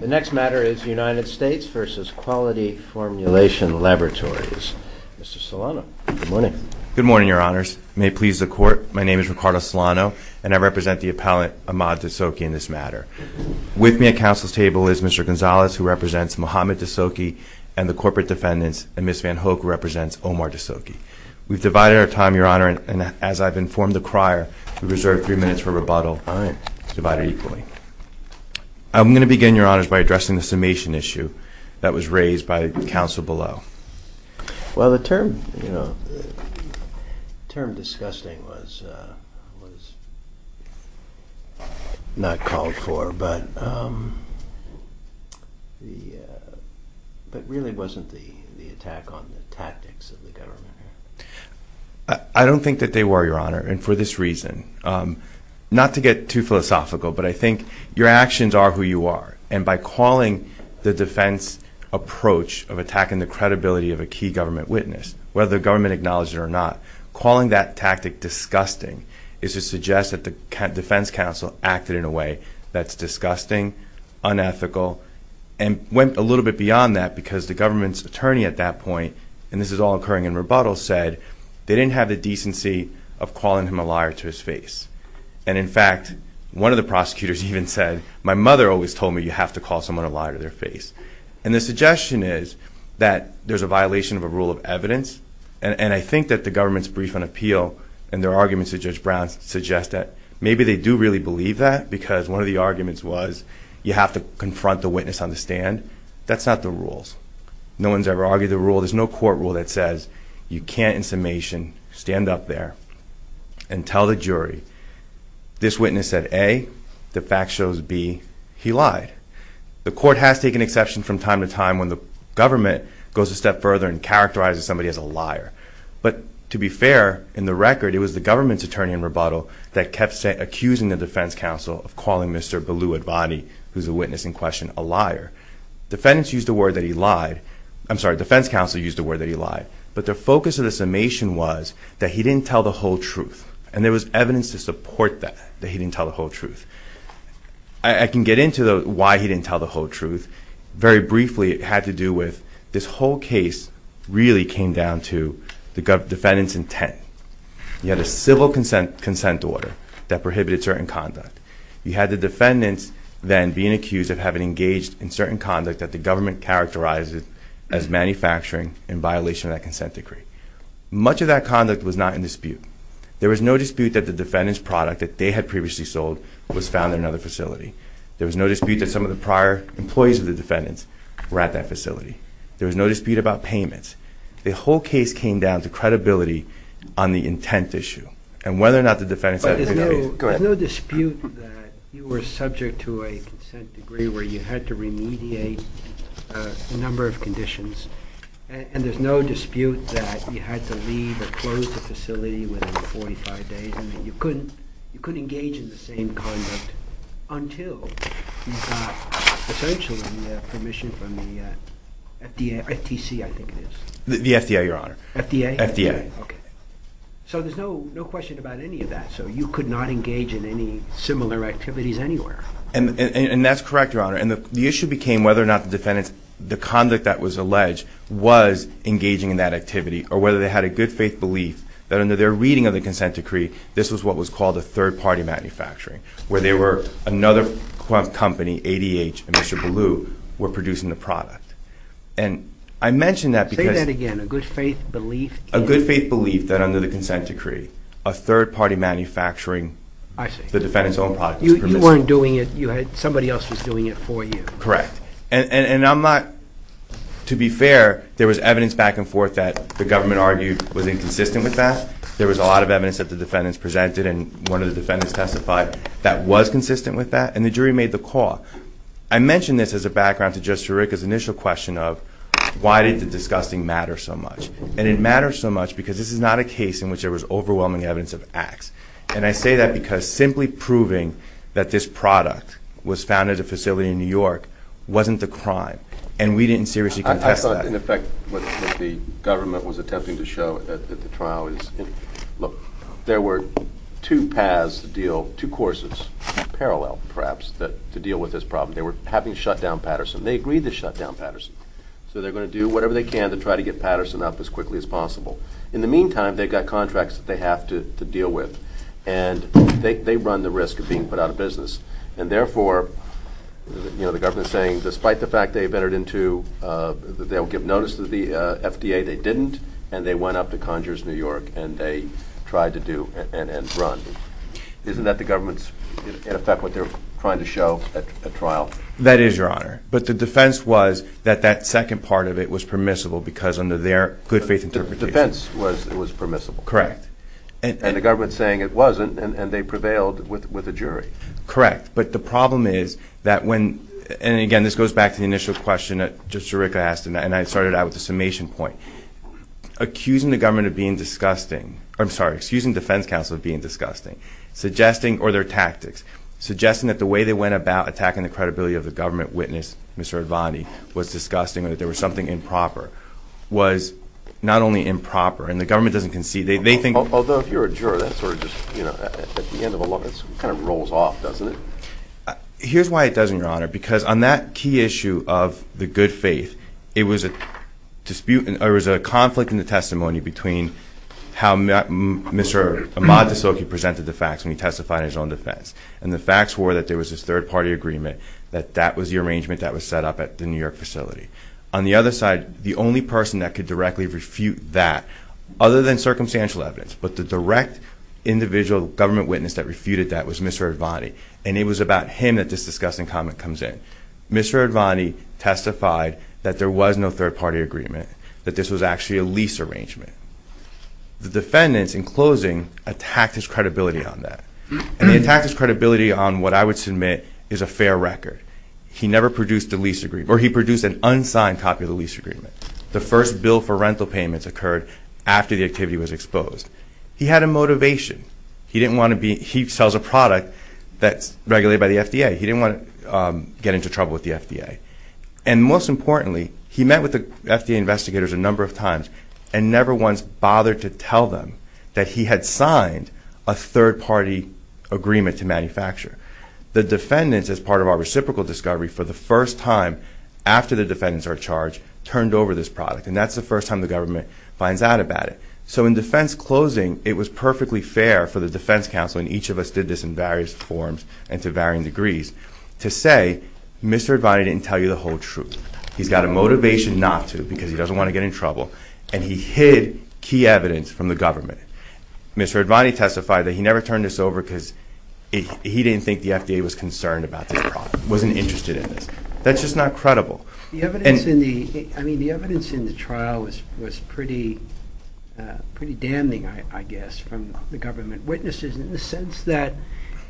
The next matter is United States vs. Quality Formulation Laboratories. Mr. Solano, good morning. Good morning, Your Honors. May it please the Court, my name is Ricardo Solano, and I represent the appellant Ahmad D'Souky in this matter. With me at counsel's table is Mr. Gonzalez, who represents Mohamed D'Souky, and the corporate defendants, and Ms. Van Hoek, who represents Omar D'Souky. We've divided our time, Your Honor, and as I've informed the crier, we've reserved three minutes for rebuttal. All right. Divided equally. I'm going to begin, Your Honors, by addressing the summation issue that was raised by counsel below. Well, the term, you know, the term disgusting was not called for, but really wasn't the attack on the tactics of the government. I don't think that they were, Your Honor, and for this reason, not to get too philosophical, but I think your actions are who you are, and by calling the defense approach of attacking the credibility of a key government witness, whether the government acknowledged it or not, calling that tactic disgusting is to suggest that the defense counsel acted in a way that's disgusting, unethical, and went a little bit beyond that because the government's attorney at that point, and this is all occurring in rebuttal, said they didn't have the decency of calling him a liar to his face. And, in fact, one of the prosecutors even said, my mother always told me you have to call someone a liar to their face. And the suggestion is that there's a violation of a rule of evidence, and I think that the government's brief on appeal and their arguments to Judge Brown suggest that maybe they do really believe that because one of the arguments was you have to confront the witness on the stand. That's not the rules. No one's ever argued the rule. There's no court rule that says you can't, in summation, stand up there and tell the jury this witness said A, the fact shows B, he lied. The court has taken exception from time to time when the government goes a step further and characterizes somebody as a liar. But, to be fair, in the record, it was the government's attorney in rebuttal that kept accusing the defense counsel of calling Mr. Baloo Advani, who's the witness in question, a liar. Defendants used the word that he lied. I'm sorry, defense counsel used the word that he lied. But the focus of the summation was that he didn't tell the whole truth. And there was evidence to support that, that he didn't tell the whole truth. I can get into why he didn't tell the whole truth. Very briefly, it had to do with this whole case really came down to the defendant's intent. He had a civil consent order that prohibited certain conduct. You had the defendants then being accused of having engaged in certain conduct that the government characterized as manufacturing in violation of that consent decree. Much of that conduct was not in dispute. There was no dispute that the defendant's product that they had previously sold was found in another facility. There was no dispute that some of the prior employees of the defendants were at that facility. There was no dispute about payments. The whole case came down to credibility on the intent issue and whether or not the defendants had been paid. So there's no dispute that you were subject to a consent decree where you had to remediate a number of conditions. And there's no dispute that you had to leave or close the facility within 45 days. You couldn't engage in the same conduct until you got essentially permission from the FDA, FTC I think it is. The FDA, Your Honor. FDA? FDA. Okay. So there's no question about any of that. So you could not engage in any similar activities anywhere. And that's correct, Your Honor. And the issue became whether or not the defendants, the conduct that was alleged, was engaging in that activity or whether they had a good faith belief that under their reading of the consent decree this was what was called a third-party manufacturing where they were another company, ADH and Mr. Ballou, were producing the product. And I mention that because Say that again. A good faith belief in A good faith belief that under the consent decree a third-party manufacturing I see. The defendants' own product was permissible. You weren't doing it. Somebody else was doing it for you. Correct. And I'm not To be fair, there was evidence back and forth that the government argued was inconsistent with that. There was a lot of evidence that the defendants presented and one of the defendants testified that was consistent with that. And the jury made the call. I mention this as a background to Judge Sirica's initial question of why did the disgusting matter so much. And it matters so much because this is not a case in which there was overwhelming evidence of acts. And I say that because simply proving that this product was found at a facility in New York wasn't the crime. And we didn't seriously contest that. I thought, in effect, what the government was attempting to show at the trial is, look, there were two paths to deal, two courses, parallel, perhaps, to deal with this problem. They were having to shut down Patterson. They agreed to shut down Patterson. So they're going to do whatever they can to try to get Patterson up as quickly as possible. In the meantime, they've got contracts that they have to deal with. And they run the risk of being put out of business. And therefore, you know, the government is saying, despite the fact they've entered into, they'll give notice to the FDA they didn't, and they went up to Conjures New York and they tried to do and run. Isn't that the government's, in effect, what they're trying to show at trial? That is, Your Honor. But the defense was that that second part of it was permissible because under their good-faith interpretation. The defense was it was permissible. Correct. And the government's saying it wasn't, and they prevailed with a jury. Correct. But the problem is that when, and again, this goes back to the initial question that Judge Jirica asked, and I started out with the summation point. Accusing the government of being disgusting. I'm sorry. Excusing defense counsel of being disgusting. Suggesting, or their tactics. Suggesting that the way they went about attacking the credibility of the government witness, Mr. Advanti, was disgusting or that there was something improper, was not only improper, and the government doesn't concede. They think. Although if you're a juror, that sort of just, you know, at the end of a law, that kind of rolls off, doesn't it? Here's why it doesn't, Your Honor. Because on that key issue of the good faith, it was a dispute, or it was a conflict in the testimony between how Mr. Amatisoki presented the facts when he testified in his own defense. And the facts were that there was this third-party agreement that that was the arrangement that was set up at the New York facility. On the other side, the only person that could directly refute that, other than circumstantial evidence, but the direct individual government witness that refuted that was Mr. Advanti. And it was about him that this disgusting comment comes in. Mr. Advanti testified that there was no third-party agreement, that this was actually a lease arrangement. The defendants, in closing, attacked his credibility on that. And they attacked his credibility on what I would submit is a fair record. He never produced a lease agreement, or he produced an unsigned copy of the lease agreement. The first bill for rental payments occurred after the activity was exposed. He had a motivation. He didn't want to be – he sells a product that's regulated by the FDA. He didn't want to get into trouble with the FDA. And most importantly, he met with the FDA investigators a number of times and never once bothered to tell them that he had signed a third-party agreement to manufacture. The defendants, as part of our reciprocal discovery, for the first time after the defendants are charged, turned over this product, and that's the first time the government finds out about it. So in defense closing, it was perfectly fair for the defense counsel, and each of us did this in various forms and to varying degrees, to say Mr. Advanti didn't tell you the whole truth. He's got a motivation not to because he doesn't want to get in trouble. And he hid key evidence from the government. Mr. Advanti testified that he never turned this over because he didn't think the FDA was concerned about this product, wasn't interested in this. That's just not credible. The evidence in the trial was pretty damning, I guess, from the government witnesses in the sense that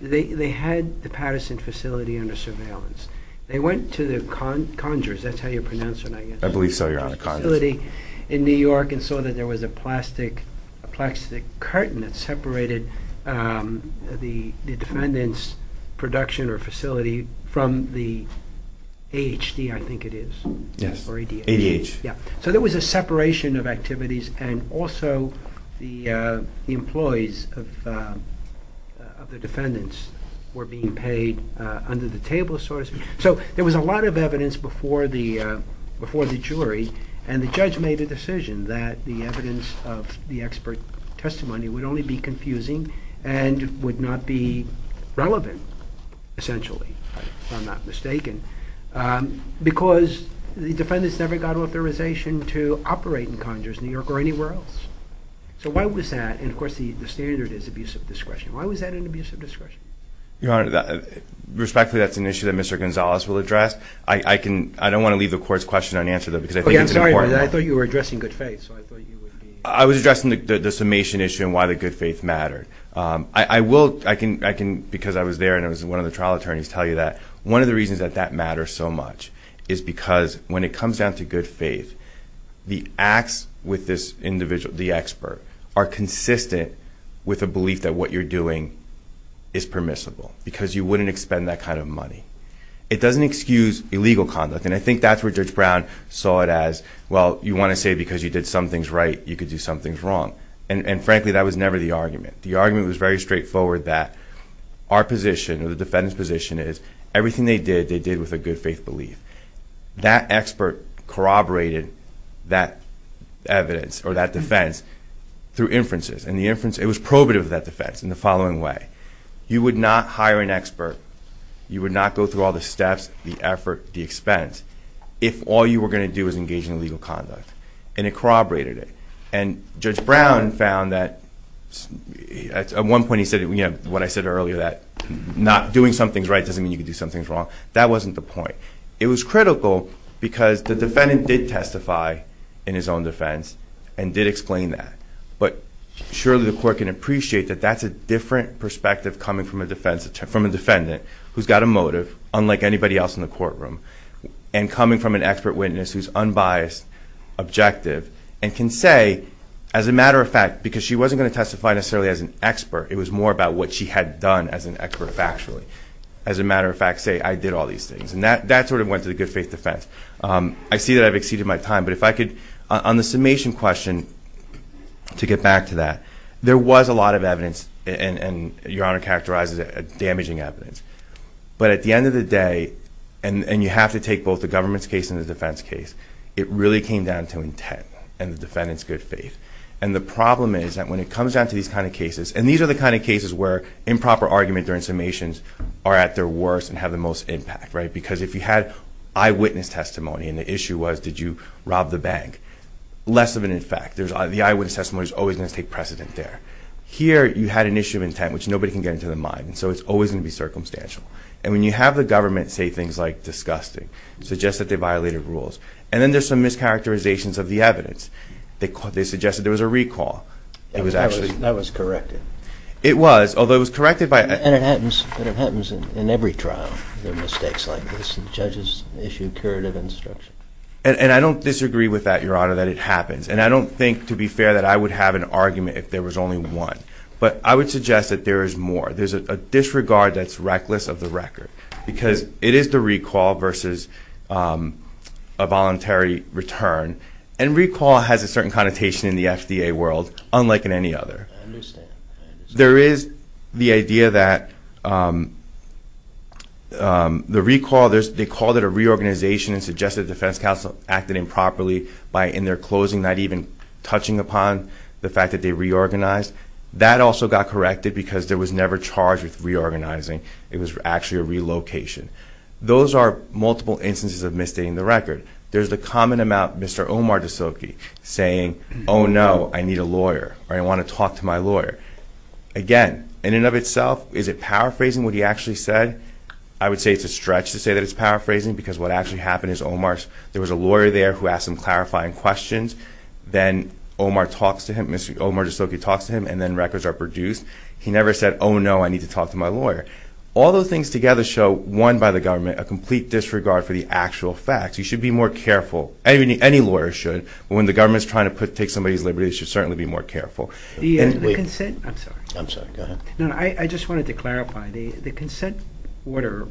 they had the Patterson facility under surveillance. They went to the Conjures facility in New York and saw that there was a plastic curtain that separated the defendant's production or facility from the AHD, I think it is, or ADH. So there was a separation of activities, and also the employees of the defendants were being paid under the table. So there was a lot of evidence before the jury, and the judge made a decision that the evidence of the expert testimony would only be confusing and would not be relevant, essentially, if I'm not mistaken, because the defendants never got authorization to operate in Conjures, New York, or anywhere else. So why was that? And, of course, the standard is abuse of discretion. Why was that an abuse of discretion? Your Honor, respectfully, that's an issue that Mr. Gonzalez will address. I don't want to leave the Court's question unanswered, though, because I think it's important. Okay, I'm sorry. I thought you were addressing good faith, so I thought you would be. I was addressing the summation issue and why the good faith mattered. I will, because I was there and I was one of the trial attorneys, tell you that one of the reasons that that matters so much is because when it comes down to good faith, the acts with this individual, the expert, are consistent with a belief that what you're doing is permissible because you wouldn't expend that kind of money. It doesn't excuse illegal conduct, and I think that's where Judge Brown saw it as, well, you want to say because you did some things right, you could do some things wrong. And, frankly, that was never the argument. The argument was very straightforward that our position or the defendant's position is everything they did, they did with a good faith belief. That expert corroborated that evidence or that defense through inferences, and it was probative of that defense in the following way. You would not hire an expert, you would not go through all the steps, the effort, the expense, if all you were going to do was engage in illegal conduct, and it corroborated it. And Judge Brown found that at one point he said, you know, what I said earlier, that not doing some things right doesn't mean you can do some things wrong. That wasn't the point. It was critical because the defendant did testify in his own defense and did explain that, but surely the court can appreciate that that's a different perspective coming from a defendant who's got a motive, unlike anybody else in the courtroom, and coming from an expert witness who's unbiased, objective, and can say, as a matter of fact, because she wasn't going to testify necessarily as an expert, it was more about what she had done as an expert factually. As a matter of fact, say, I did all these things. And that sort of went to the good faith defense. I see that I've exceeded my time, but if I could, on the summation question, to get back to that, there was a lot of evidence, and Your Honor characterizes it as damaging evidence. But at the end of the day, and you have to take both the government's case and the defense case, it really came down to intent and the defendant's good faith. And the problem is that when it comes down to these kind of cases, and these are the kind of cases where improper argument during summations are at their worst and have the most impact, right, because if you had eyewitness testimony and the issue was did you rob the bank, less of an effect. The eyewitness testimony is always going to take precedent there. Here you had an issue of intent, which nobody can get into their mind, so it's always going to be circumstantial. And when you have the government say things like disgusting, suggest that they violated rules, and then there's some mischaracterizations of the evidence. They suggested there was a recall. That was corrected. It was, although it was corrected by... And it happens in every trial. There are mistakes like this, and judges issue curative instruction. And I don't disagree with that, Your Honor, that it happens. And I don't think, to be fair, that I would have an argument if there was only one. But I would suggest that there is more. There's a disregard that's reckless of the record, because it is the recall versus a voluntary return. And recall has a certain connotation in the FDA world, unlike in any other. I understand. There is the idea that the recall, they called it a reorganization and suggested the defense counsel acted improperly in their closing, not even touching upon the fact that they reorganized. That also got corrected because there was never charged with reorganizing. It was actually a relocation. Those are multiple instances of misstating the record. There's the common amount, Mr. Omar DeSilke, saying, oh, no, I need a lawyer, or I want to talk to my lawyer. Again, in and of itself, is it power phrasing what he actually said? I would say it's a stretch to say that it's power phrasing, because what actually happened is Omar's, there was a lawyer there who asked him clarifying questions. Then Omar talks to him, Mr. Omar DeSilke talks to him, and then records are produced. He never said, oh, no, I need to talk to my lawyer. All those things together show, one, by the government, a complete disregard for the actual facts. You should be more careful, any lawyer should, when the government is trying to take somebody's liberty, they should certainly be more careful. The consent, I'm sorry. I'm sorry, go ahead. No, I just wanted to clarify. The consent order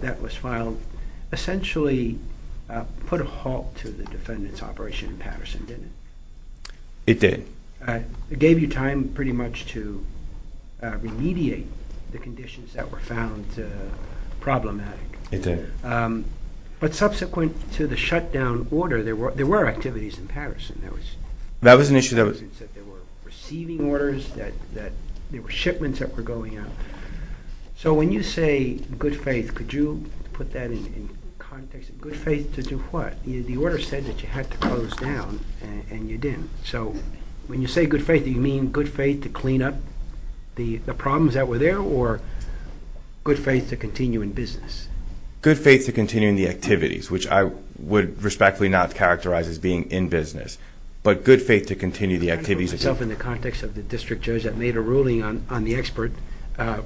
that was filed essentially put a halt to the defendant's operation in Patterson, didn't it? It did. It gave you time pretty much to remediate the conditions that were found problematic. It did. But subsequent to the shutdown order, there were activities in Patterson. That was an issue that was... that there were receiving orders, that there were shipments that were going out. So when you say good faith, could you put that in context? Good faith to do what? The order said that you had to close down, and you didn't. So when you say good faith, do you mean good faith to clean up the problems that were there or good faith to continue in business? Good faith to continue in the activities, which I would respectfully not characterize as being in business, but good faith to continue the activities. I'm trying to put myself in the context of the district judge that made a ruling on the expert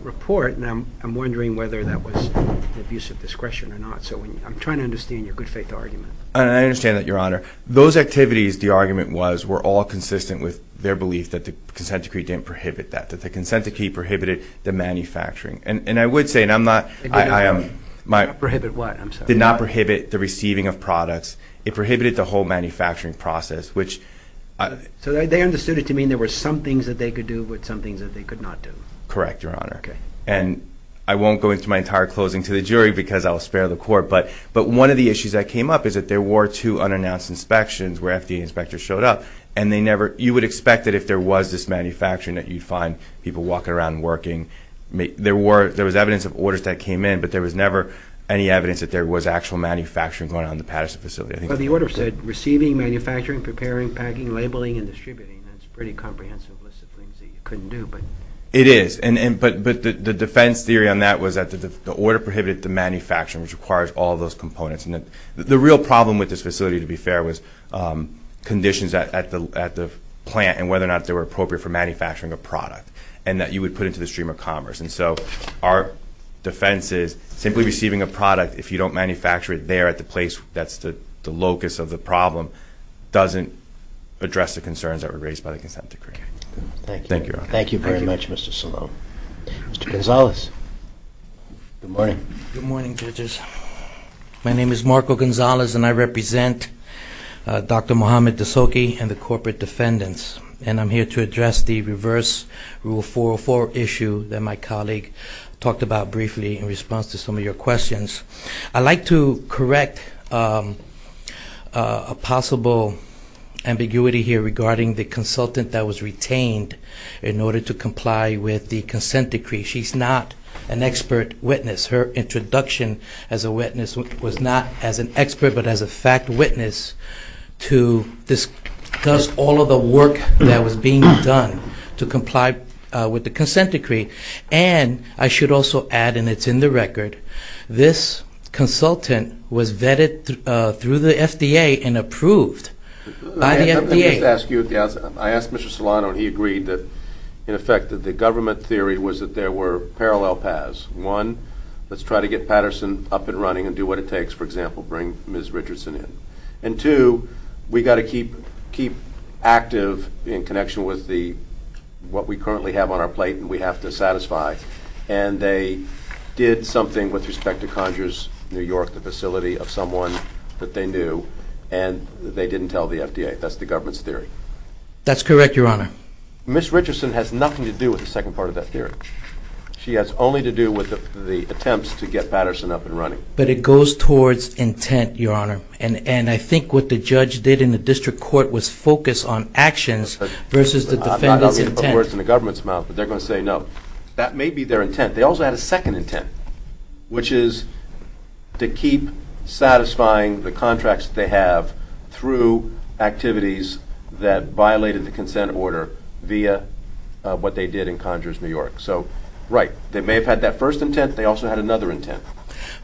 report, and I'm wondering whether that was an abuse of discretion or not. So I'm trying to understand your good faith argument. I understand that, Your Honor. Those activities, the argument was, were all consistent with their belief that the consent decree didn't prohibit that, that the consent decree prohibited the manufacturing. And I would say, and I'm not... It did not prohibit what? It did not prohibit the receiving of products. It prohibited the whole manufacturing process, which... So they understood it to mean there were some things that they could do but some things that they could not do. Correct, Your Honor. And I won't go into my entire closing to the jury because I'll spare the court, but one of the issues that came up is that there were two unannounced inspections where FDA inspectors showed up, and they never... You would expect that if there was this manufacturing that you'd find people walking around and working. There was evidence of orders that came in, but there was never any evidence that there was actual manufacturing going on in the Patterson facility. Well, the order said receiving, manufacturing, preparing, packing, labeling, and distributing. That's a pretty comprehensive list of things that you couldn't do, but... It is. But the defense theory on that was that the order prohibited the manufacturing, which requires all those components. And the real problem with this facility, to be fair, was conditions at the plant and whether or not they were appropriate for manufacturing a product and that you would put into the stream of commerce. And so our defense is simply receiving a product, if you don't manufacture it there at the place that's the locus of the problem, doesn't address the concerns that were raised by the consent decree. Thank you. Thank you, Your Honor. Thank you very much, Mr. Salone. Mr. Gonzalez. Good morning. Good morning, judges. My name is Marco Gonzalez, and I represent Dr. Mohamed Dasoki and the corporate defendants. And I'm here to address the reverse Rule 404 issue that my colleague talked about briefly in response to some of your questions. I'd like to correct a possible ambiguity here regarding the consultant that was retained in order to comply with the consent decree. She's not an expert witness. Her introduction as a witness was not as an expert but as a fact witness to discuss all of the work that was being done to comply with the consent decree. And I should also add, and it's in the record, this consultant was vetted through the FDA and approved by the FDA. Let me just ask you at the outset. I asked Mr. Solano, and he agreed that, in effect, that the government theory was that there were parallel paths. One, let's try to get Patterson up and running and do what it takes, for example, to bring Ms. Richardson in. And two, we've got to keep active in connection with what we currently have on our plate and we have to satisfy. And they did something with respect to Conjure's New York, the facility of someone that they knew, and they didn't tell the FDA. That's the government's theory. That's correct, Your Honor. Ms. Richardson has nothing to do with the second part of that theory. She has only to do with the attempts to get Patterson up and running. But it goes towards intent, Your Honor, and I think what the judge did in the district court was focus on actions versus the defendant's intent. I'm not going to put words in the government's mouth, but they're going to say no. That may be their intent. They also had a second intent, which is to keep satisfying the contracts that they have through activities that violated the consent order via what they did in Conjure's New York. So, right, they may have had that first intent. They also had another intent.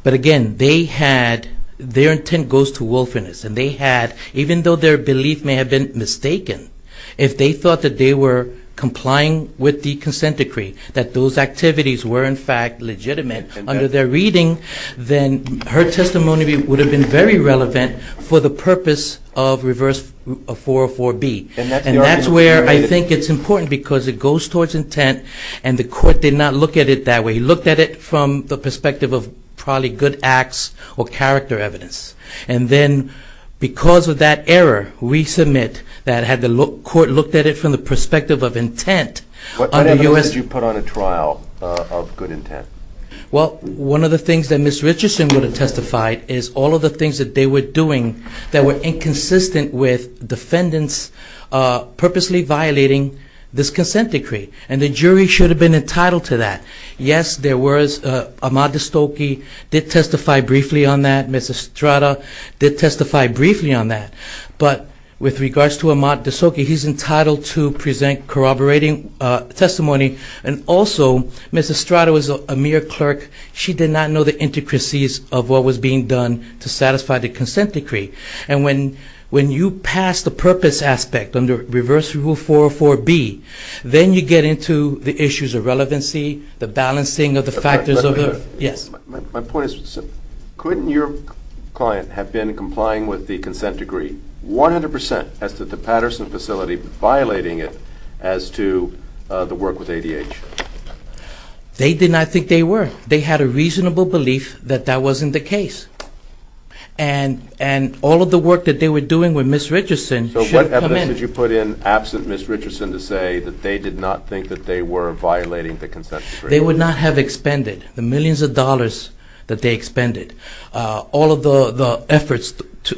But, again, they had their intent goes to wilfulness. And they had, even though their belief may have been mistaken, if they thought that they were complying with the consent decree, that those activities were, in fact, legitimate under their reading, then her testimony would have been very relevant for the purpose of Reverse 404B. And that's where I think it's important because it goes towards intent, and the court did not look at it that way. We looked at it from the perspective of probably good acts or character evidence. And then because of that error, resubmit, that had the court looked at it from the perspective of intent. What kind of evidence did you put on a trial of good intent? Well, one of the things that Ms. Richardson would have testified is all of the things that they were doing that were inconsistent with defendants purposely violating this consent decree. And the jury should have been entitled to that. Yes, there was. Ahmad De Stokey did testify briefly on that. Ms. Estrada did testify briefly on that. But with regards to Ahmad De Stokey, he's entitled to present corroborating testimony. And also, Ms. Estrada was a mere clerk. She did not know the intricacies of what was being done to satisfy the consent decree. And when you pass the purpose aspect under Reverse 404B, then you get into the issues of relevancy, the balancing of the factors of the My point is, couldn't your client have been complying with the consent decree 100% as to the Patterson facility violating it as to the work with ADH? They did not think they were. They had a reasonable belief that that wasn't the case. And all of the work that they were doing with Ms. Richardson should have come in. How much did you put in absent Ms. Richardson to say that they did not think that they were violating the consent decree? They would not have expended the millions of dollars that they expended, all of the efforts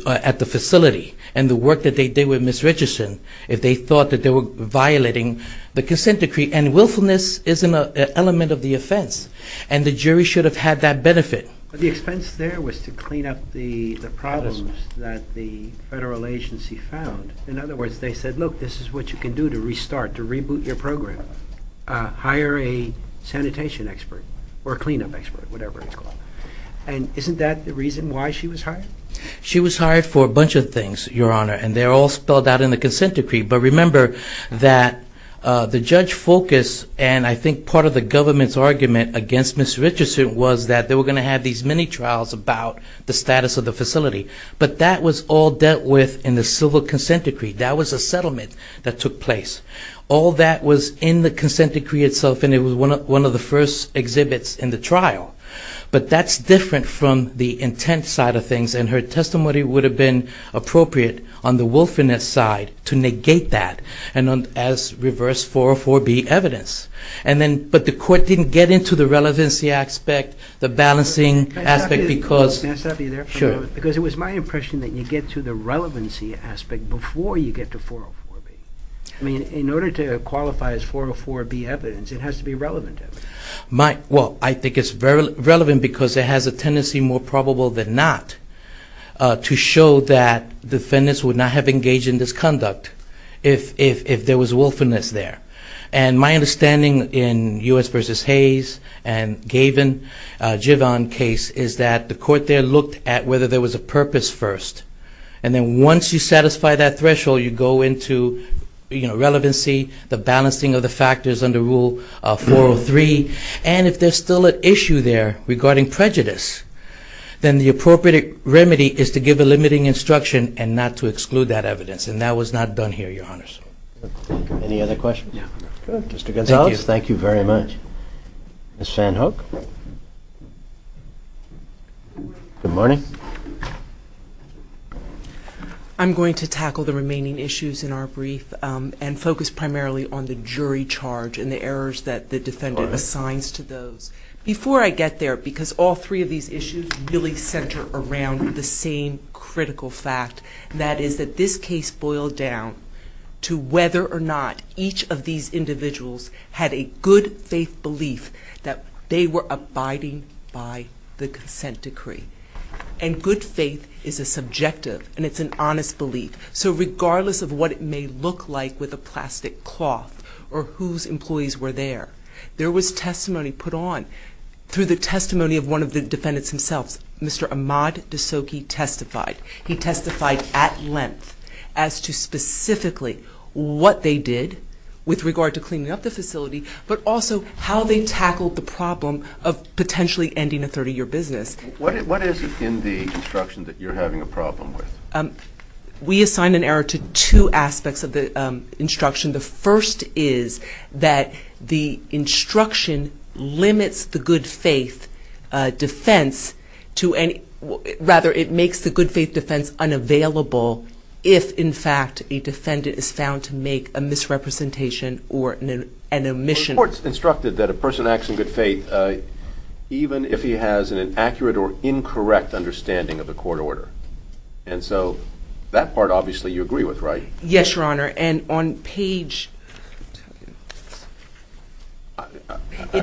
at the facility, and the work that they did with Ms. Richardson, if they thought that they were violating the consent decree. And willfulness isn't an element of the offense. And the jury should have had that benefit. But the expense there was to clean up the problems that the federal agency found. In other words, they said, look, this is what you can do to restart, to reboot your program. Hire a sanitation expert or a cleanup expert, whatever it's called. And isn't that the reason why she was hired? She was hired for a bunch of things, Your Honor, and they're all spelled out in the consent decree. But remember that the judge focused, and I think part of the government's argument against Ms. Richardson was that they were going to have these mini-trials about the status of the facility. But that was all dealt with in the civil consent decree. That was a settlement that took place. All that was in the consent decree itself, and it was one of the first exhibits in the trial. But that's different from the intent side of things, and her testimony would have been appropriate on the willfulness side to negate that as reverse 404B evidence. But the court didn't get into the relevancy aspect, the balancing aspect because... Can I stop you there for a moment? Sure. Because it was my impression that you get to the relevancy aspect before you get to 404B. I mean, in order to qualify as 404B evidence, it has to be relevant evidence. Well, I think it's relevant because it has a tendency, more probable than not, to show that defendants would not have engaged in this conduct if there was willfulness there. And my understanding in U.S. v. Hayes and Gaven, Jivon case, is that the court there looked at whether there was a purpose first. And then once you satisfy that threshold, you go into relevancy, the balancing of the factors under Rule 403. And if there's still an issue there regarding prejudice, then the appropriate remedy is to give a limiting instruction and not to exclude that evidence. And that was not done here, Your Honors. Any other questions? Mr. Gonzalez, thank you very much. Ms. Van Hook? Good morning. I'm going to tackle the remaining issues in our brief and focus primarily on the jury charge and the errors that the defendant assigns to those. Before I get there, because all three of these issues really center around the same critical fact, that is that this case boiled down to whether or not each of these individuals had a good faith belief that they were abiding by the consent decree. And good faith is a subjective, and it's an honest belief. So regardless of what it may look like with a plastic cloth or whose employees were there, there was testimony put on. Through the testimony of one of the defendants themselves, Mr. Ahmaud D'Souza testified. He testified at length as to specifically what they did with regard to cleaning up the facility, but also how they tackled the problem of potentially ending a 30-year business. What is it in the instruction that you're having a problem with? We assign an error to two aspects of the instruction. The first is that the instruction limits the good faith defense to any – rather, it makes the good faith defense unavailable if, in fact, a defendant is found to make a misrepresentation or an omission. The court's instructed that a person acts in good faith even if he has an inaccurate or incorrect understanding of the court order. And so that part, obviously, you agree with, right? Yes, Your Honor, and on page –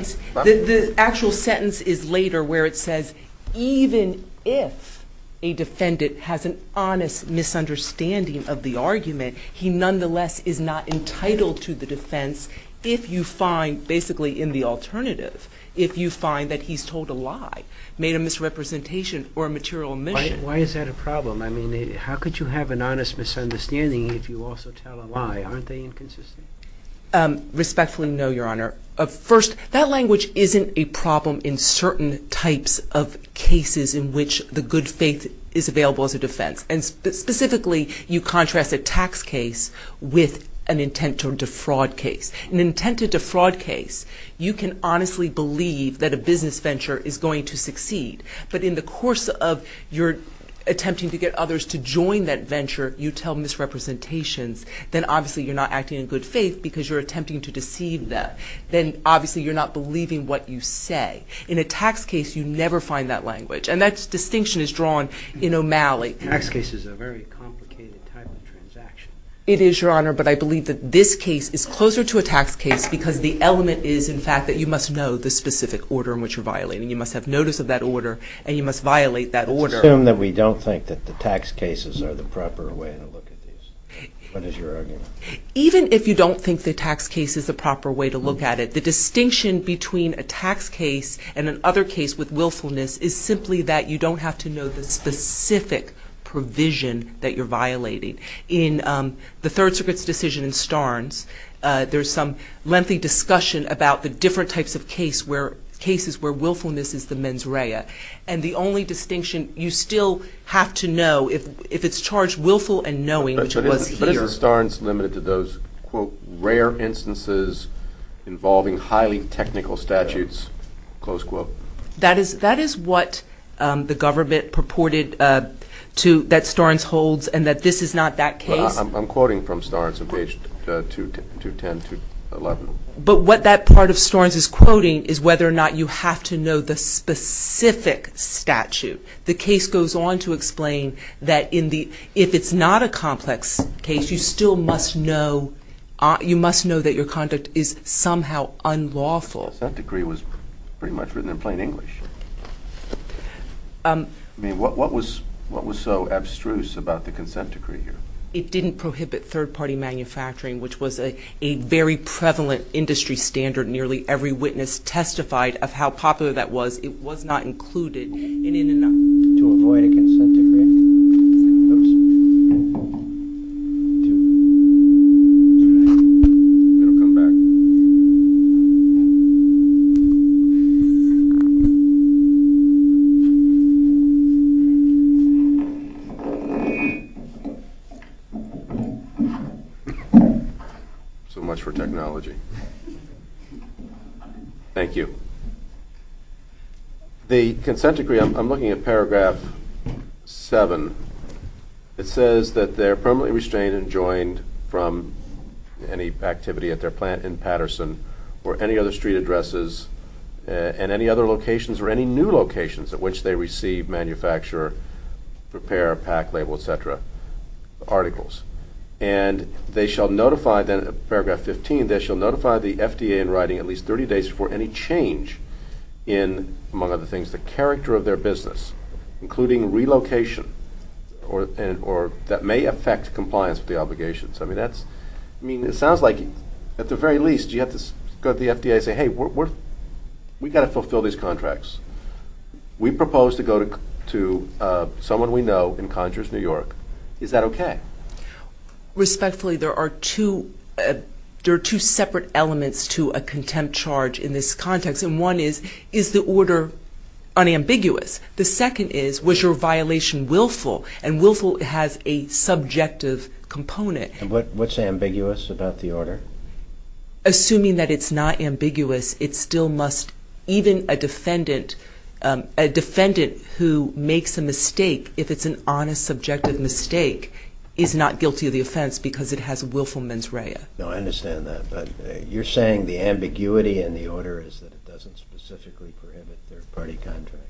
the actual sentence is later where it says, even if a defendant has an honest misunderstanding of the argument, he nonetheless is not entitled to the defense if you find – basically in the alternative – if you find that he's told a lie, made a misrepresentation or a material omission. Why is that a problem? I mean, how could you have an honest misunderstanding if you also tell a lie? Aren't they inconsistent? Respectfully, no, Your Honor. First, that language isn't a problem in certain types of cases in which the good faith is available as a defense. And specifically, you contrast a tax case with an intent to defraud case. An intent to defraud case, you can honestly believe that a business venture is going to succeed, but in the course of your attempting to get others to join that venture, you tell misrepresentations. Then, obviously, you're not acting in good faith because you're attempting to deceive them. Then, obviously, you're not believing what you say. In a tax case, you never find that language. And that distinction is drawn in O'Malley. Tax case is a very complicated type of transaction. It is, Your Honor, but I believe that this case is closer to a tax case because the element is, in fact, that you must know the specific order in which you're violating. You must have notice of that order, and you must violate that order. Let's assume that we don't think that the tax cases are the proper way to look at these. What is your argument? Even if you don't think the tax case is the proper way to look at it, the distinction between a tax case and another case with willfulness is simply that you don't have to know the specific provision that you're violating. In the Third Circuit's decision in Starnes, there's some lengthy discussion about the different types of cases where willfulness is the mens rea. And the only distinction, you still have to know if it's charged willful and knowing, which it was here. But isn't Starnes limited to those, quote, rare instances involving highly technical statutes, close quote? That is what the government purported that Starnes holds and that this is not that case. I'm quoting from Starnes on page 210 to 11. But what that part of Starnes is quoting is whether or not you have to know the specific statute. The case goes on to explain that if it's not a complex case, you still must know that your conduct is somehow unlawful. That decree was pretty much written in plain English. I mean, what was so abstruse about the consent decree here? It didn't prohibit third-party manufacturing, which was a very prevalent industry standard. Nearly every witness testified of how popular that was. It was not included. To avoid a consent decree. So much for technology. Thank you. The consent decree, I'm looking at paragraph 7. It says that they're permanently restrained and joined from any activity at their plant in Patterson or any other street addresses and any other locations or any new locations at which they receive, manufacture, prepare, pack, label, et cetera, articles. And they shall notify then, paragraph 15, they shall notify the FDA in writing at least 30 days before any change in, among other things, the character of their business, including relocation or that may affect compliance with the obligations. I mean, it sounds like at the very least you have to go to the FDA and say, hey, we've got to fulfill these contracts. We propose to go to someone we know in Conjures, New York. Is that okay? Respectfully, there are two separate elements to a contempt charge in this context. And one is, is the order unambiguous? The second is, was your violation willful? And willful has a subjective component. What's ambiguous about the order? Assuming that it's not ambiguous, it still must, even a defendant, a defendant who makes a mistake, if it's an honest, subjective mistake, is not guilty of the offense because it has willful mens rea. No, I understand that. But you're saying the ambiguity in the order is that it doesn't specifically prohibit their party contracting.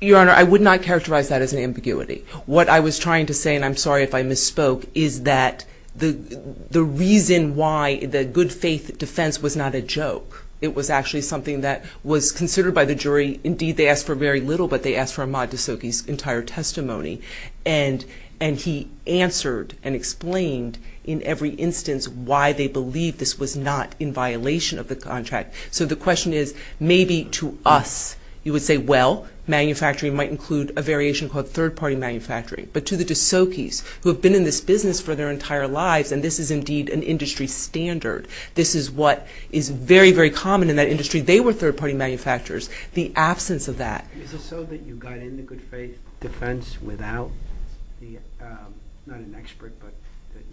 Your Honor, I would not characterize that as an ambiguity. What I was trying to say, and I'm sorry if I misspoke, is that the reason why the good faith defense was not a joke. It was actually something that was considered by the jury. Indeed, they asked for very little, but they asked for Ahmad D'Souky's entire testimony. And he answered and explained in every instance why they believed this was not in violation of the contract. So the question is, maybe to us, you would say, well, manufacturing might include a variation called third-party manufacturing. But to the D'Soukys, who have been in this business for their entire lives, and this is indeed an industry standard, this is what is very, very common in that industry, they were third-party manufacturers. The absence of that. Is it so that you got in the good faith defense without the, not an expert, but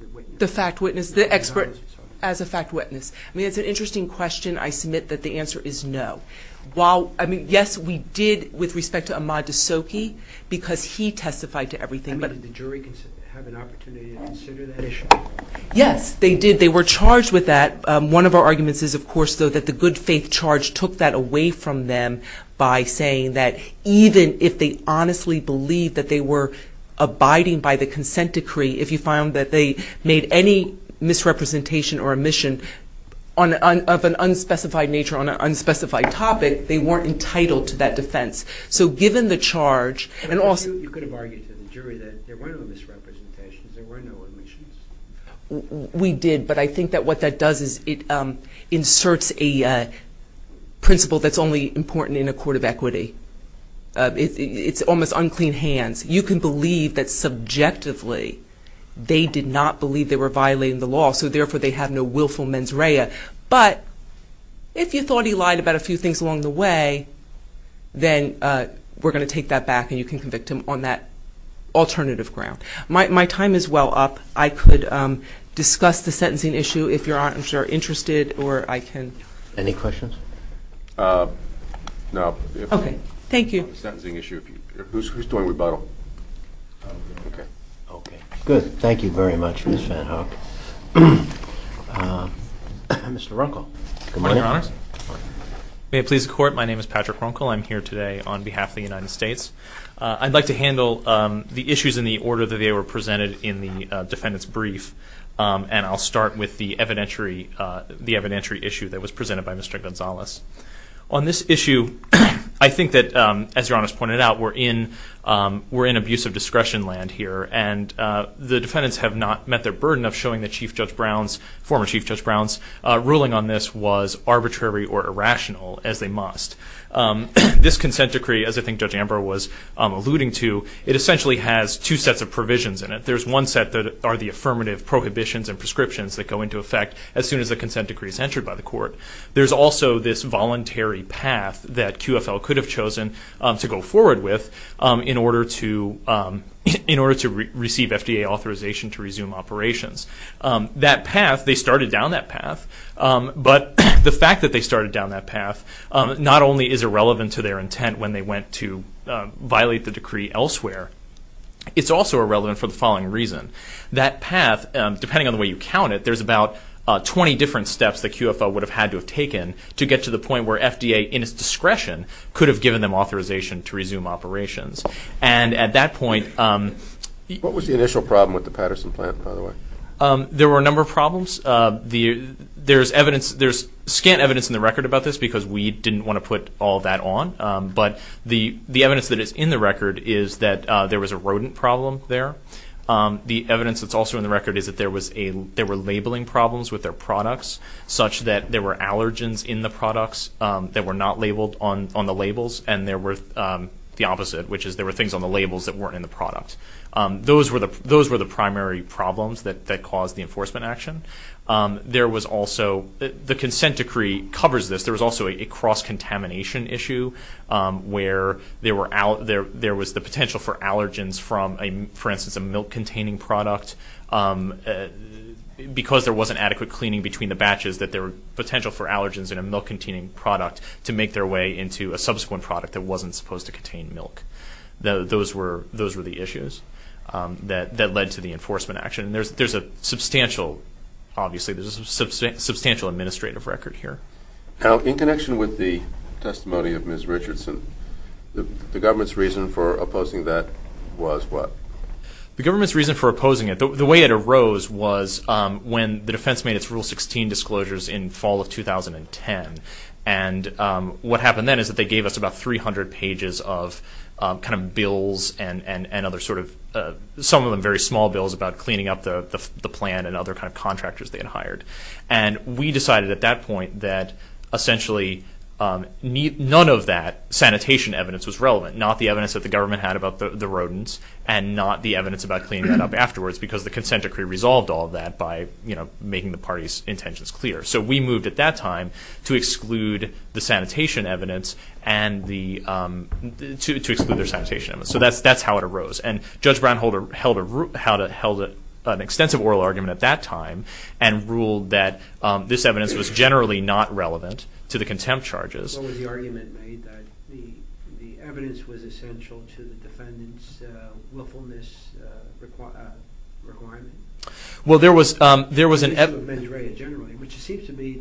the witness? The fact witness, the expert as a fact witness. I mean, it's an interesting question. I submit that the answer is no. While, I mean, yes, we did, with respect to Ahmad D'Souky, because he testified to everything. I mean, did the jury have an opportunity to consider that issue? Yes, they did. They were charged with that. One of our arguments is, of course, though, that the good faith charge took that away from them by saying that even if they honestly believed that they were abiding by the consent decree, if you found that they made any misrepresentation or omission of an unspecified nature on an unspecified topic, they weren't entitled to that defense. So given the charge, and also- But you could have argued to the jury that there were no misrepresentations, there were no omissions. We did, but I think that what that does is it inserts a principle that's only important in a court of equity. It's almost unclean hands. You can believe that subjectively they did not believe they were violating the law, so therefore they have no willful mens rea. But if you thought he lied about a few things along the way, then we're going to take that back and you can convict him on that alternative ground. My time is well up. I could discuss the sentencing issue if you're interested, or I can- Any questions? No. Okay. Thank you. Sentencing issue. Who's doing rebuttal? Okay. Okay. Good. Thank you very much, Ms. VanHook. Mr. Runkel. Good morning, Your Honors. May it please the Court, my name is Patrick Runkel. I'm here today on behalf of the United States. I'd like to handle the issues in the order that they were presented in the defendant's brief, and I'll start with the evidentiary issue that was presented by Mr. Gonzalez. On this issue, I think that, as Your Honors pointed out, we're in abusive discretion land here, and the defendants have not met their burden of showing that Chief Judge Brown's, former Chief Judge Brown's, ruling on this was arbitrary or irrational, as they must. This consent decree, as I think Judge Amber was alluding to, it essentially has two sets of provisions in it. There's one set that are the affirmative prohibitions and prescriptions that go into effect as soon as the consent decree is entered by the Court. There's also this voluntary path that QFL could have chosen to go forward with in order to receive FDA authorization to resume operations. That path, they started down that path, but the fact that they started down that path not only is irrelevant to their That path, depending on the way you count it, there's about 20 different steps that QFL would have had to have taken to get to the point where FDA, in its discretion, could have given them authorization to resume operations. And at that point... What was the initial problem with the Patterson plant, by the way? There were a number of problems. There's evidence, there's scant evidence in the record about this because we didn't want to put all that on, but the evidence that is in the record is that there was a rodent problem there. The evidence that's also in the record is that there were labeling problems with their products such that there were allergens in the products that were not labeled on the labels, and there were the opposite, which is there were things on the labels that weren't in the product. Those were the primary problems that caused the enforcement action. There was also... The consent decree covers this. There was also a cross-contamination issue where there was the potential for allergens from, for instance, a milk-containing product. Because there wasn't adequate cleaning between the batches, there was potential for allergens in a milk-containing product to make their way into a subsequent product that wasn't supposed to contain milk. Those were the issues that led to the enforcement action. And there's a substantial, obviously, there's a substantial administrative record here. Now, in connection with the testimony of Ms. Richardson, the government's reason for opposing that was what? The government's reason for opposing it, the way it arose, was when the defense made its Rule 16 disclosures in fall of 2010. And what happened then is that they gave us about 300 pages of kind of bills and other sort of, some of them very small bills about cleaning up the plant and other kind of contractors they had hired. And we decided at that point that essentially none of that sanitation evidence was relevant, not the evidence that the government had about the rodents and not the evidence about cleaning it up afterwards, because the consent decree resolved all of that by, you know, making the party's intentions clear. So we moved at that time to exclude the sanitation evidence and the... But that's how it arose. And Judge Brownholder held a... held an extensive oral argument at that time and ruled that this evidence was generally not relevant to the contempt charges. What was the argument made that the evidence was essential to the defendant's willfulness requirement? Well, there was an... The issue of mens rea generally, which seems to be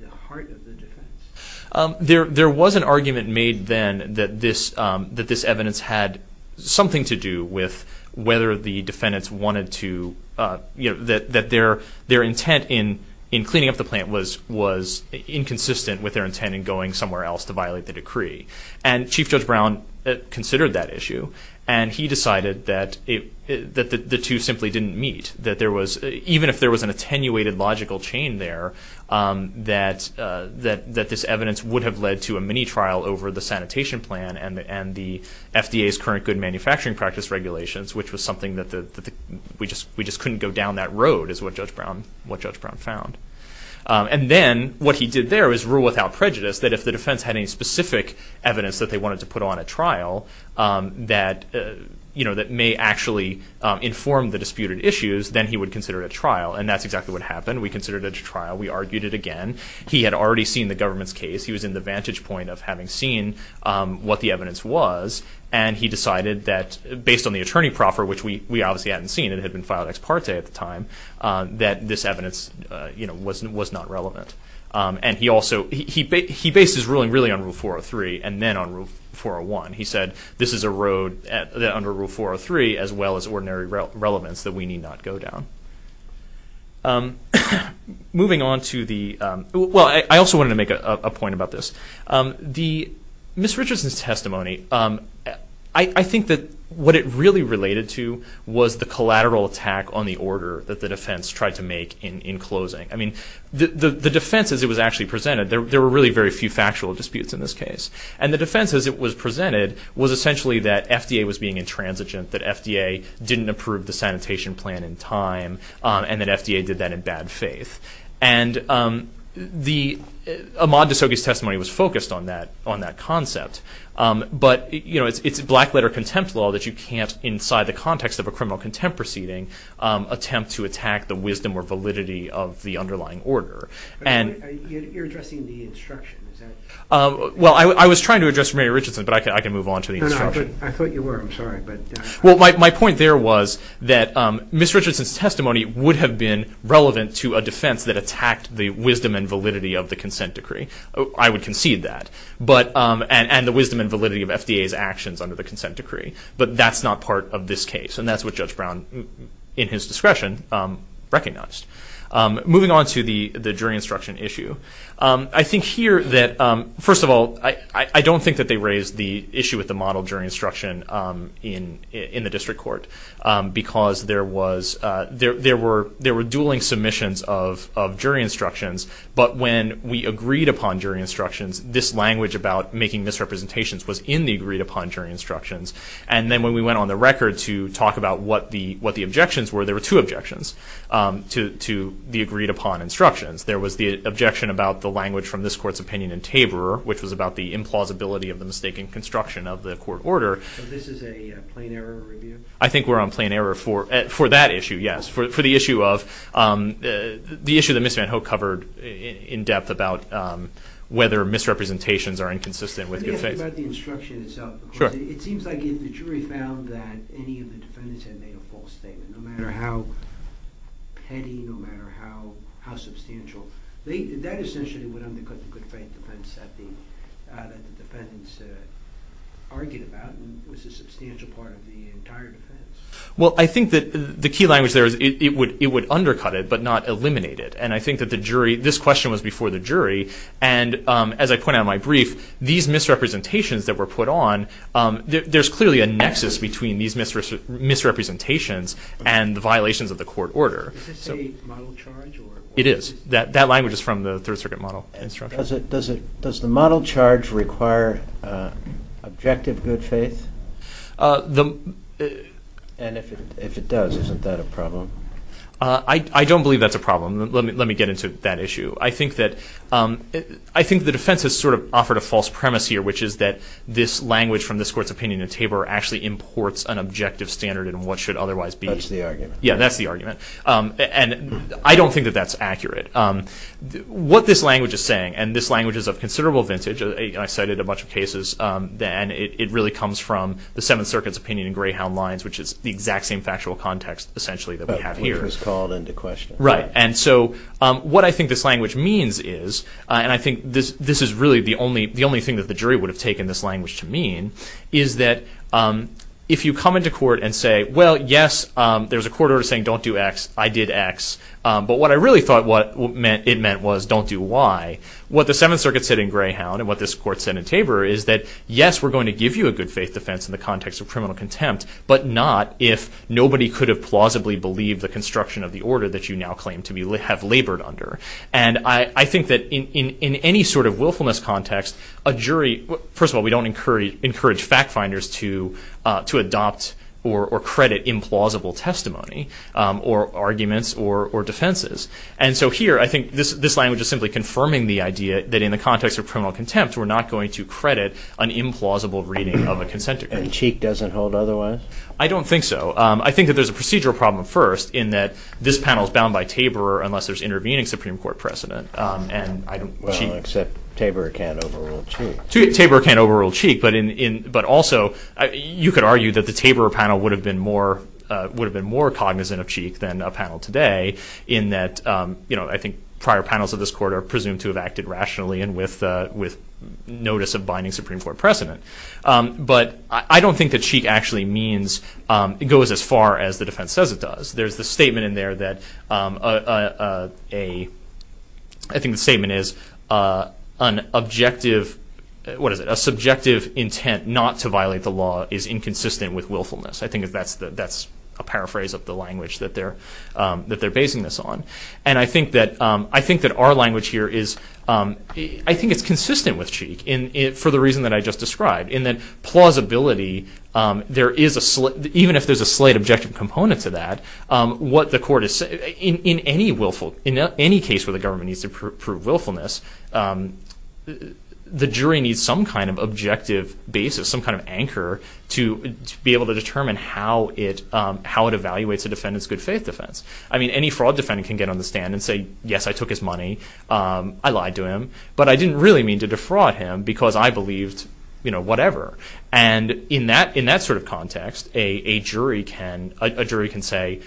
the heart of the defense. There was an argument made then that this evidence had something to do with whether the defendants wanted to, you know, that their intent in cleaning up the plant was inconsistent with their intent in going somewhere else to violate the decree. And Chief Judge Brown considered that issue. And he decided that the two simply didn't meet, that there was... Even if there was an attenuated logical chain there, that this evidence would have led to a mini-trial over the sanitation plan and the FDA's current good manufacturing practice regulations, which was something that the... We just couldn't go down that road is what Judge Brown found. And then what he did there was rule without prejudice that if the defense had any specific evidence that they wanted to put on a trial that, you know, that may actually inform the disputed issues, then he would consider it a trial. And that's exactly what happened. We considered it a trial. We argued it again. He had already seen the government's case. He was in the vantage point of having seen what the evidence was. And he decided that based on the attorney proffer, which we obviously hadn't seen, it had been filed ex parte at the time, that this evidence, you know, was not relevant. And he also... He based his ruling really on Rule 403 and then on Rule 401. He said this is a road under Rule 403 as well as ordinary relevance that we need not go down. Moving on to the... Well, I also wanted to make a point about this. Ms. Richardson's testimony, I think that what it really related to was the collateral attack on the order that the defense tried to make in closing. I mean, the defense as it was actually presented, there were really very few factual disputes in this case. And the defense as it was presented was essentially that FDA was being intransigent, that FDA didn't approve the sanitation plan in time, and that FDA did that in bad faith. And Ahmaud D'Souza's testimony was focused on that concept. But, you know, it's black-letter contempt law that you can't, inside the context of a criminal contempt proceeding, attempt to attack the wisdom or validity of the underlying order. You're addressing the instruction, is that...? Well, I was trying to address Mary Richardson, but I can move on to the instruction. I thought you were. I'm sorry. Well, my point there was that Ms. Richardson's testimony would have been relevant to a defense that attacked the wisdom and validity of the consent decree. I would concede that. And the wisdom and validity of FDA's actions under the consent decree. But that's not part of this case. And that's what Judge Brown, in his discretion, recognized. Moving on to the jury instruction issue. I think here that, first of all, I don't think that they raised the issue with the model jury instruction in the district court, because there were dueling submissions of jury instructions. But when we agreed upon jury instructions, this language about making misrepresentations was in the agreed-upon jury instructions. And then when we went on the record to talk about what the objections were, there were two objections to the agreed-upon instructions. There was the objection about the language from this court's opinion in Tabor, which was about the implausibility of the mistaken construction of the court order. So this is a plain error review? I think we're on plain error for that issue, yes. For the issue that Ms. Van Hoke covered in depth about whether misrepresentations are inconsistent with good faith. Let me ask you about the instruction itself. It seems like the jury found that any of the defendants had made a false statement, no matter how petty, no matter how substantial. That essentially would undercut the good faith defense that the defendants argued about, and was a substantial part of the entire defense. Well, I think that the key language there is it would undercut it, but not eliminate it. And I think that this question was before the jury. And as I point out in my brief, these misrepresentations that were put on, there's clearly a nexus between these misrepresentations and the violations of the court order. Is this a model charge? It is. That language is from the Third Circuit model instruction. Does the model charge require objective good faith? And if it does, isn't that a problem? I don't believe that's a problem. Let me get into that issue. I think the defense has sort of offered a false premise here, which is that this language from this court's opinion in Tabor actually imports an objective standard in what should otherwise be. That's the argument. Yeah, that's the argument. And I don't think that that's accurate. What this language is saying, and this language is of considerable vintage, and I cited a bunch of cases, and it really comes from the Seventh Circuit's opinion in Greyhound Lines, which is the exact same factual context, essentially, that we have here. Which was called into question. Right. And so what I think this language means is, and I think this is really the only thing that the jury would have taken this language to mean, is that if you come into court and say, well, yes, there's a court order saying don't do X, I did X. But what I really thought it meant was don't do Y. What the Seventh Circuit said in Greyhound and what this court said in Tabor is that, yes, we're going to give you a good faith defense in the context of criminal contempt, but not if nobody could have plausibly believed the construction of the order that you now claim to have labored under. And I think that in any sort of willfulness context, a jury, first of all, we don't encourage fact finders to adopt or credit implausible testimony or arguments or defenses. And so here, I think this language is simply confirming the idea that in the context of criminal contempt, we're not going to credit an implausible reading of a consent decree. And Cheek doesn't hold otherwise? I don't think so. I think that there's a procedural problem first, in that this panel is bound by Tabor unless there's intervening Supreme Court precedent. Well, except Tabor can't overrule Cheek. Tabor can't overrule Cheek, but also, you could argue that the Tabor panel would have been more cognizant of Cheek than a panel today, in that I think prior panels of this court are presumed to have acted rationally and with notice of binding Supreme Court precedent. But I don't think that Cheek actually goes as far as the defense says it does. There's the statement in there that an objective, what is it, a subjective intent not to violate the law is inconsistent with willfulness. I think that's a paraphrase of the language that they're basing this on. And I think that our language here is, I think it's consistent with Cheek, for the reason that I just described, in that plausibility, even if there's a slight objective component to that, in any case where the government needs to prove willfulness, the jury needs some kind of objective basis, some kind of anchor, to be able to determine how it evaluates a defendant's good faith defense. I mean, any fraud defendant can get on the stand and say, yes, I took his money, I lied to him, but I didn't really mean to defraud him because I believed whatever. And in that sort of context, a jury can say,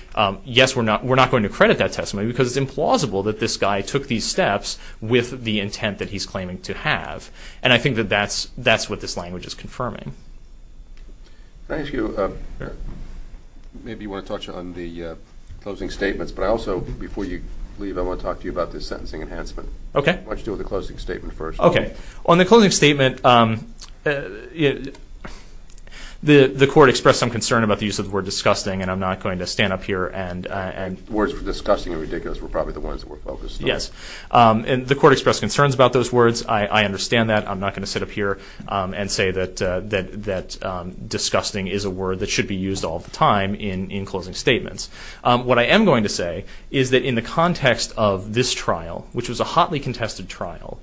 yes, we're not going to credit that testimony because it's implausible that this guy took these steps with the intent that he's claiming to have. And I think that that's what this language is confirming. Can I ask you, maybe you want to touch on the closing statements, but I also, before you leave, I want to talk to you about this sentencing enhancement. Why don't you deal with the closing statement first? Okay. On the closing statement, the court expressed some concern about the use of the word disgusting, and I'm not going to stand up here and... Words for disgusting and ridiculous were probably the ones that were focused on. Yes. And the court expressed concerns about those words. I understand that. I'm not going to sit up here and say that disgusting is a word that should be used all the time in closing statements. What I am going to say is that in the context of this trial, which was a hotly contested trial,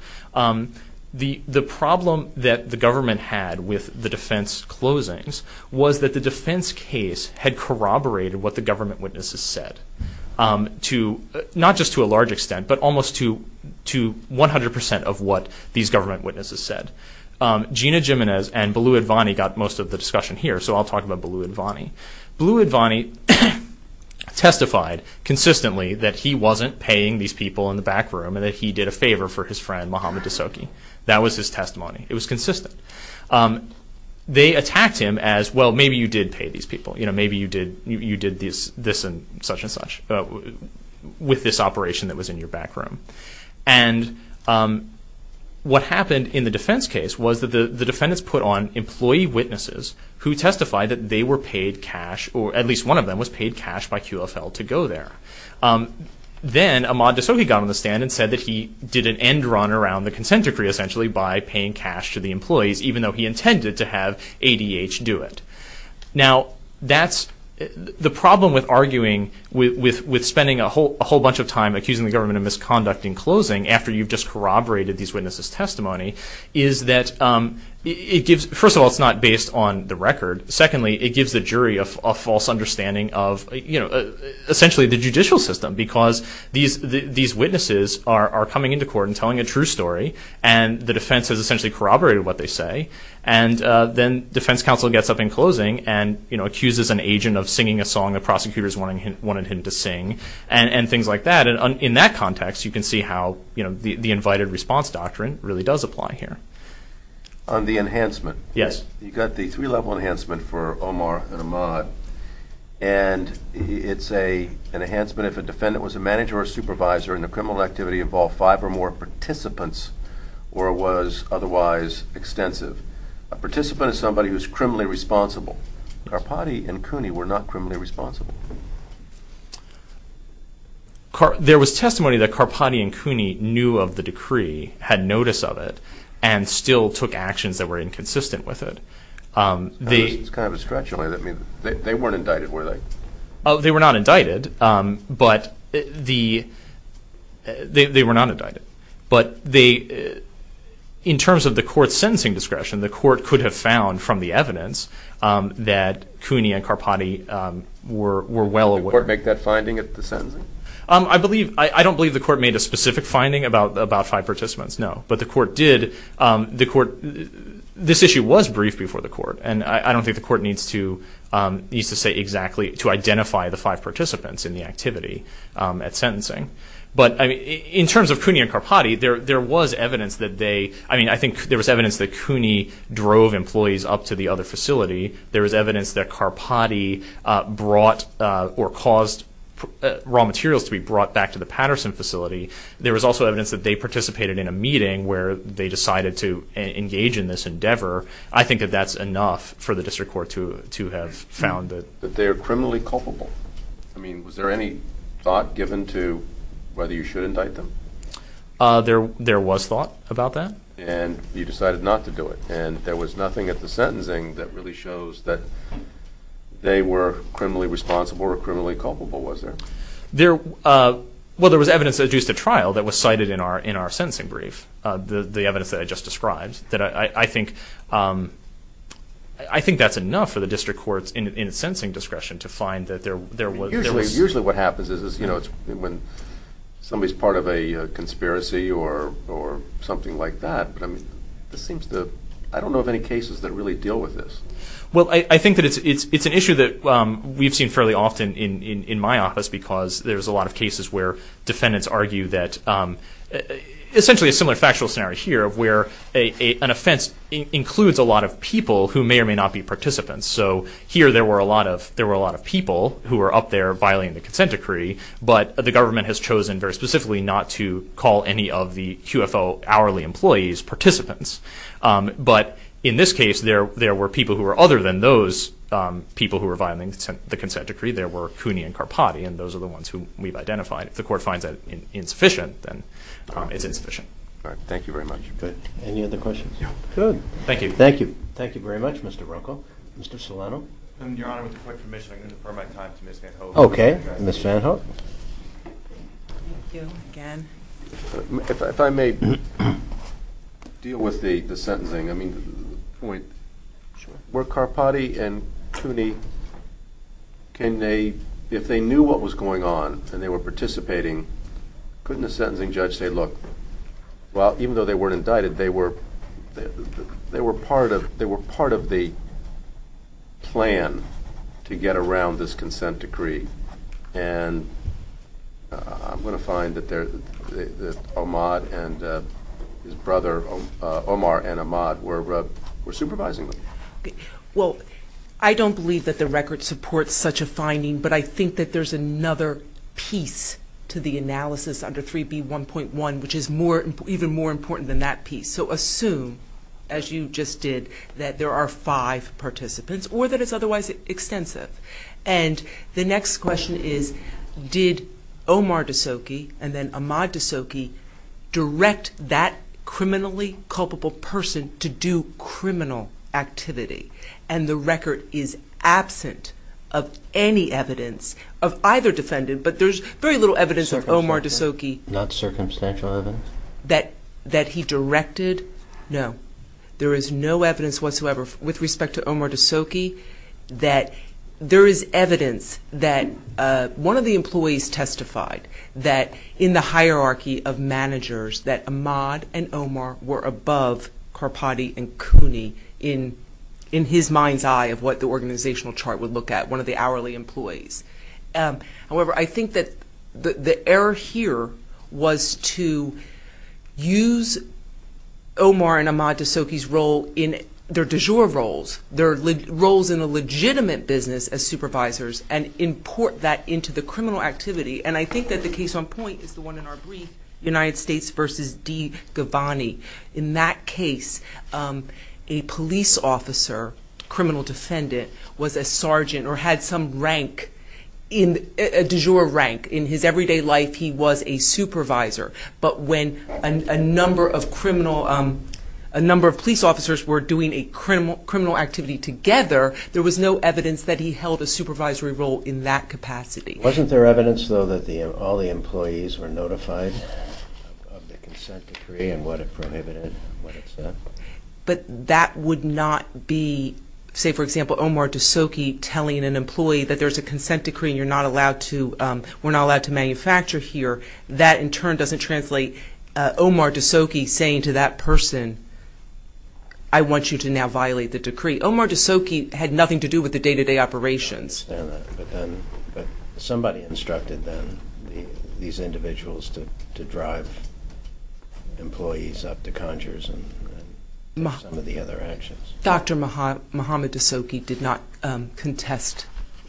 the problem that the government had with the defense closings was that the defense case had corroborated what the government witnesses said, not just to a large extent, but almost to 100% of what these government witnesses said. Gina Gimenez and Balou Advani got most of the discussion here, so I'll talk about Balou Advani. Balou Advani testified consistently that he wasn't paying these people in the back room and that he did a favor for his friend, Mohamed Desoki. That was his testimony. It was consistent. They attacked him as, well, maybe you did pay these people. Maybe you did this and such and such with this operation that was in your back room. And what happened in the defense case was that the defendants put on employee witnesses who testified that they were paid cash, or at least one of them was paid cash by QFL to go there. Then Ahmad Desoki got on the stand and said that he did an end run around the consent decree, essentially, by paying cash to the employees, even though he intended to have ADH do it. Now, the problem with arguing, with spending a whole bunch of time accusing the government of misconduct in closing after you've just corroborated these witnesses' testimony, is that, first of all, it's not based on the record. Secondly, it gives the jury a false understanding of, essentially, the judicial system, because these witnesses are coming into court and telling a true story, and the defense has essentially corroborated what they say. Then defense counsel gets up in closing and accuses an agent of singing a song the prosecutors wanted him to sing and things like that. In that context, you can see how the invited response doctrine really does apply here. On the enhancement. Yes. You've got the three-level enhancement for Omar and Ahmad, and it's an enhancement if a defendant was a manager or supervisor and the criminal activity involved five or more participants or was otherwise extensive. A participant is somebody who's criminally responsible. Karpati and Cooney were not criminally responsible. There was testimony that Karpati and Cooney knew of the decree, had notice of it, and still took actions that were inconsistent with it. It's kind of a stretch. They weren't indicted, were they? They were not indicted, but they were not indicted. But in terms of the court's sentencing discretion, the court could have found from the evidence that Cooney and Karpati were well aware. Did the court make that finding at the sentencing? I don't believe the court made a specific finding about five participants, no. But the court did. This issue was briefed before the court, and I don't think the court needs to say exactly to identify the five participants in the activity at sentencing. But in terms of Cooney and Karpati, there was evidence that they – I mean, I think there was evidence that Cooney drove employees up to the other facility. There was evidence that Karpati brought or caused raw materials to be brought back to the Patterson facility. There was also evidence that they participated in a meeting where they decided to engage in this endeavor. I think that that's enough for the district court to have found that. But they are criminally culpable. I mean, was there any thought given to whether you should indict them? There was thought about that. And you decided not to do it. And there was nothing at the sentencing that really shows that they were criminally responsible or criminally culpable, was there? Well, there was evidence that adduced a trial that was cited in our sentencing brief, the evidence that I just described. I think that's enough for the district courts in its sentencing discretion to find that there was – Usually what happens is when somebody's part of a conspiracy or something like that, but, I mean, this seems to – I don't know of any cases that really deal with this. Well, I think that it's an issue that we've seen fairly often in my office because there's a lot of cases where defendants argue that – essentially a similar factual scenario here of where an offense includes a lot of people who may or may not be participants. So here there were a lot of people who were up there violating the consent decree, but the government has chosen very specifically not to call any of the QFO hourly employees participants. But in this case, there were people who were other than those people who were violating the consent decree. There were Cooney and Carpotti, and those are the ones who we've identified. If the court finds that insufficient, then it's insufficient. All right. Thank you very much. Good. Any other questions? No. Good. Thank you. Thank you. Thank you very much, Mr. Ruckel. Mr. Solano? Your Honor, with the correct permission, I'm going to defer my time to Ms. Van Hoek. Okay. Ms. Van Hoek? Thank you again. If I may deal with the sentencing, I mean, the point. Sure. Were Carpotti and Cooney – can they – if they knew what was going on and they were participating, couldn't a sentencing judge say, look, well, even though they weren't indicted, they were part of the plan to get around this consent decree? And I'm going to find that Omad and his brother Omar and Omad were supervising them. Well, I don't believe that the record supports such a finding, but I think that there's another piece to the analysis under 3B1.1, which is even more important than that piece. So assume, as you just did, that there are five participants or that it's otherwise extensive. And the next question is, did Omar DeSocchi and then Omad DeSocchi direct that criminally culpable person to do criminal activity? And the record is absent of any evidence of either defendant, but there's very little evidence of Omar DeSocchi. Not circumstantial evidence? That he directed? No. There is no evidence whatsoever with respect to Omar DeSocchi that – there is evidence that one of the employees testified that in the hierarchy of managers that Omad and Omar were above Carpati and Cooney in his mind's eye of what the organizational chart would look at, one of the hourly employees. However, I think that the error here was to use Omar and Omad DeSocchi's role in their du jour roles, their roles in a legitimate business as supervisors, and import that into the criminal activity. And I think that the case on point is the one in our brief, United States v. DiGiovanni. In that case, a police officer, criminal defendant, was a sergeant or had some rank, a du jour rank. In his everyday life, he was a supervisor. But when a number of police officers were doing a criminal activity together, there was no evidence that he held a supervisory role in that capacity. Wasn't there evidence, though, that all the employees were notified of the consent decree and what it prohibited and what it said? But that would not be, say, for example, Omar DeSocchi telling an employee that there's a consent decree and you're not allowed to – we're not allowed to manufacture here. That, in turn, doesn't translate Omar DeSocchi saying to that person, I want you to now violate the decree. Omar DeSocchi had nothing to do with the day-to-day operations. I understand that. But somebody instructed then these individuals to drive employees up to conjures and some of the other actions. Dr. Mohamed DeSocchi did not contest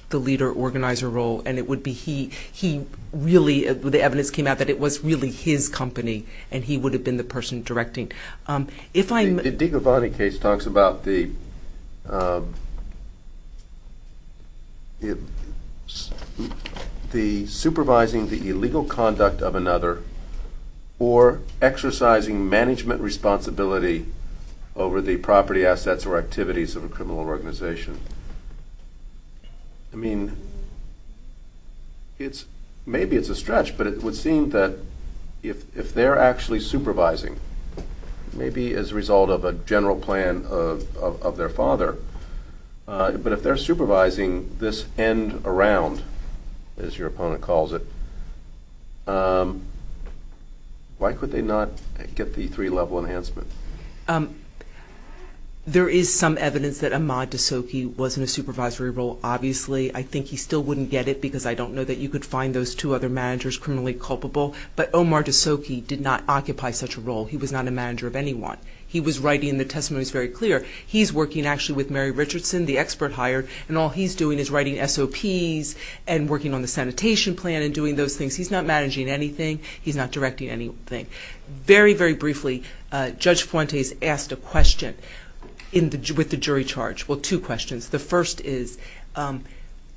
the leader-organizer role. And it would be he really – the evidence came out that it was really his company and he would have been the person directing. The DiGiovanni case talks about the supervising the illegal conduct of another or exercising management responsibility over the property assets or activities of a criminal organization. I mean, it's – maybe it's a stretch, but it would seem that if they're actually supervising, maybe as a result of a general plan of their father, but if they're supervising this end-around, as your opponent calls it, why could they not get the three-level enhancement? There is some evidence that Ahmad DeSocchi was in a supervisory role, obviously. I think he still wouldn't get it because I don't know that you could find those two other managers criminally culpable. But Omar DeSocchi did not occupy such a role. He was not a manager of anyone. He was writing – the testimony is very clear. He's working actually with Mary Richardson, the expert hired, and all he's doing is writing SOPs and working on the sanitation plan and doing those things. He's not managing anything. He's not directing anything. Very, very briefly, Judge Fuentes asked a question with the jury charge. Well, two questions. The first is,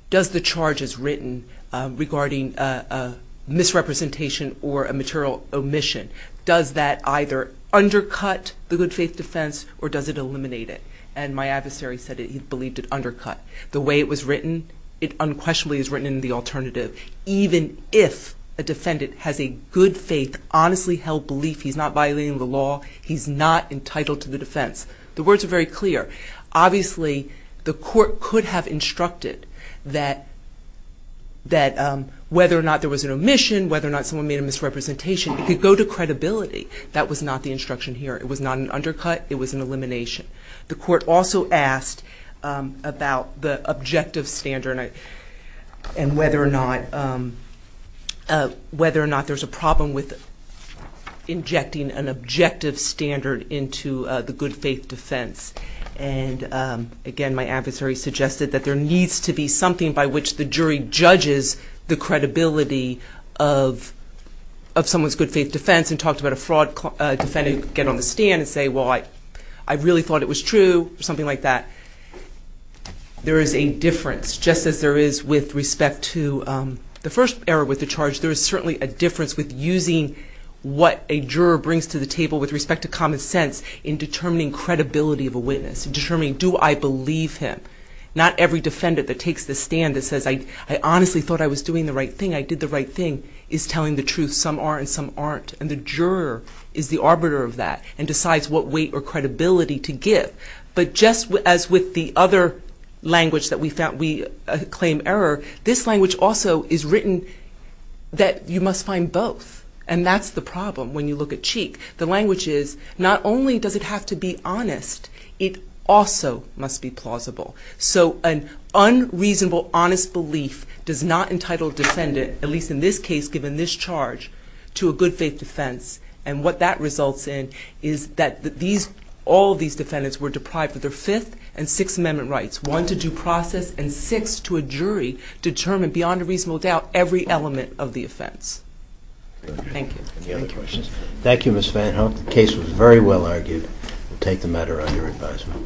does the charge as written regarding a misrepresentation or a material omission, does that either undercut the good faith defense or does it eliminate it? And my adversary said he believed it undercut. The way it was written, it unquestionably is written in the alternative. Even if a defendant has a good faith, honestly held belief, he's not violating the law, he's not entitled to the defense. The words are very clear. Obviously, the court could have instructed that whether or not there was an omission, whether or not someone made a misrepresentation, it could go to credibility. That was not the instruction here. It was not an undercut. It was an elimination. The court also asked about the objective standard and whether or not there's a problem with injecting an objective standard into the good faith defense. And, again, my adversary suggested that there needs to be something by which the jury judges the credibility of someone's stand and say, well, I really thought it was true or something like that. There is a difference, just as there is with respect to the first error with the charge. There is certainly a difference with using what a juror brings to the table with respect to common sense in determining credibility of a witness, in determining do I believe him. Not every defendant that takes the stand that says, I honestly thought I was doing the right thing, I did the right thing, is telling the truth. Some are and some aren't. And the juror is the arbiter of that and decides what weight or credibility to give. But just as with the other language that we claim error, this language also is written that you must find both. And that's the problem when you look at Cheek. The language is not only does it have to be honest, it also must be plausible. So an unreasonable, honest belief does not entitle a defendant, at least in this case given this charge, to a good faith defense. And what that results in is that all these defendants were deprived of their Fifth and Sixth Amendment rights, one to due process and six to a jury, determined beyond a reasonable doubt every element of the offense. Thank you. Any other questions? Thank you, Ms. Van Hoek. The case was very well argued. We'll take the matter under advisement.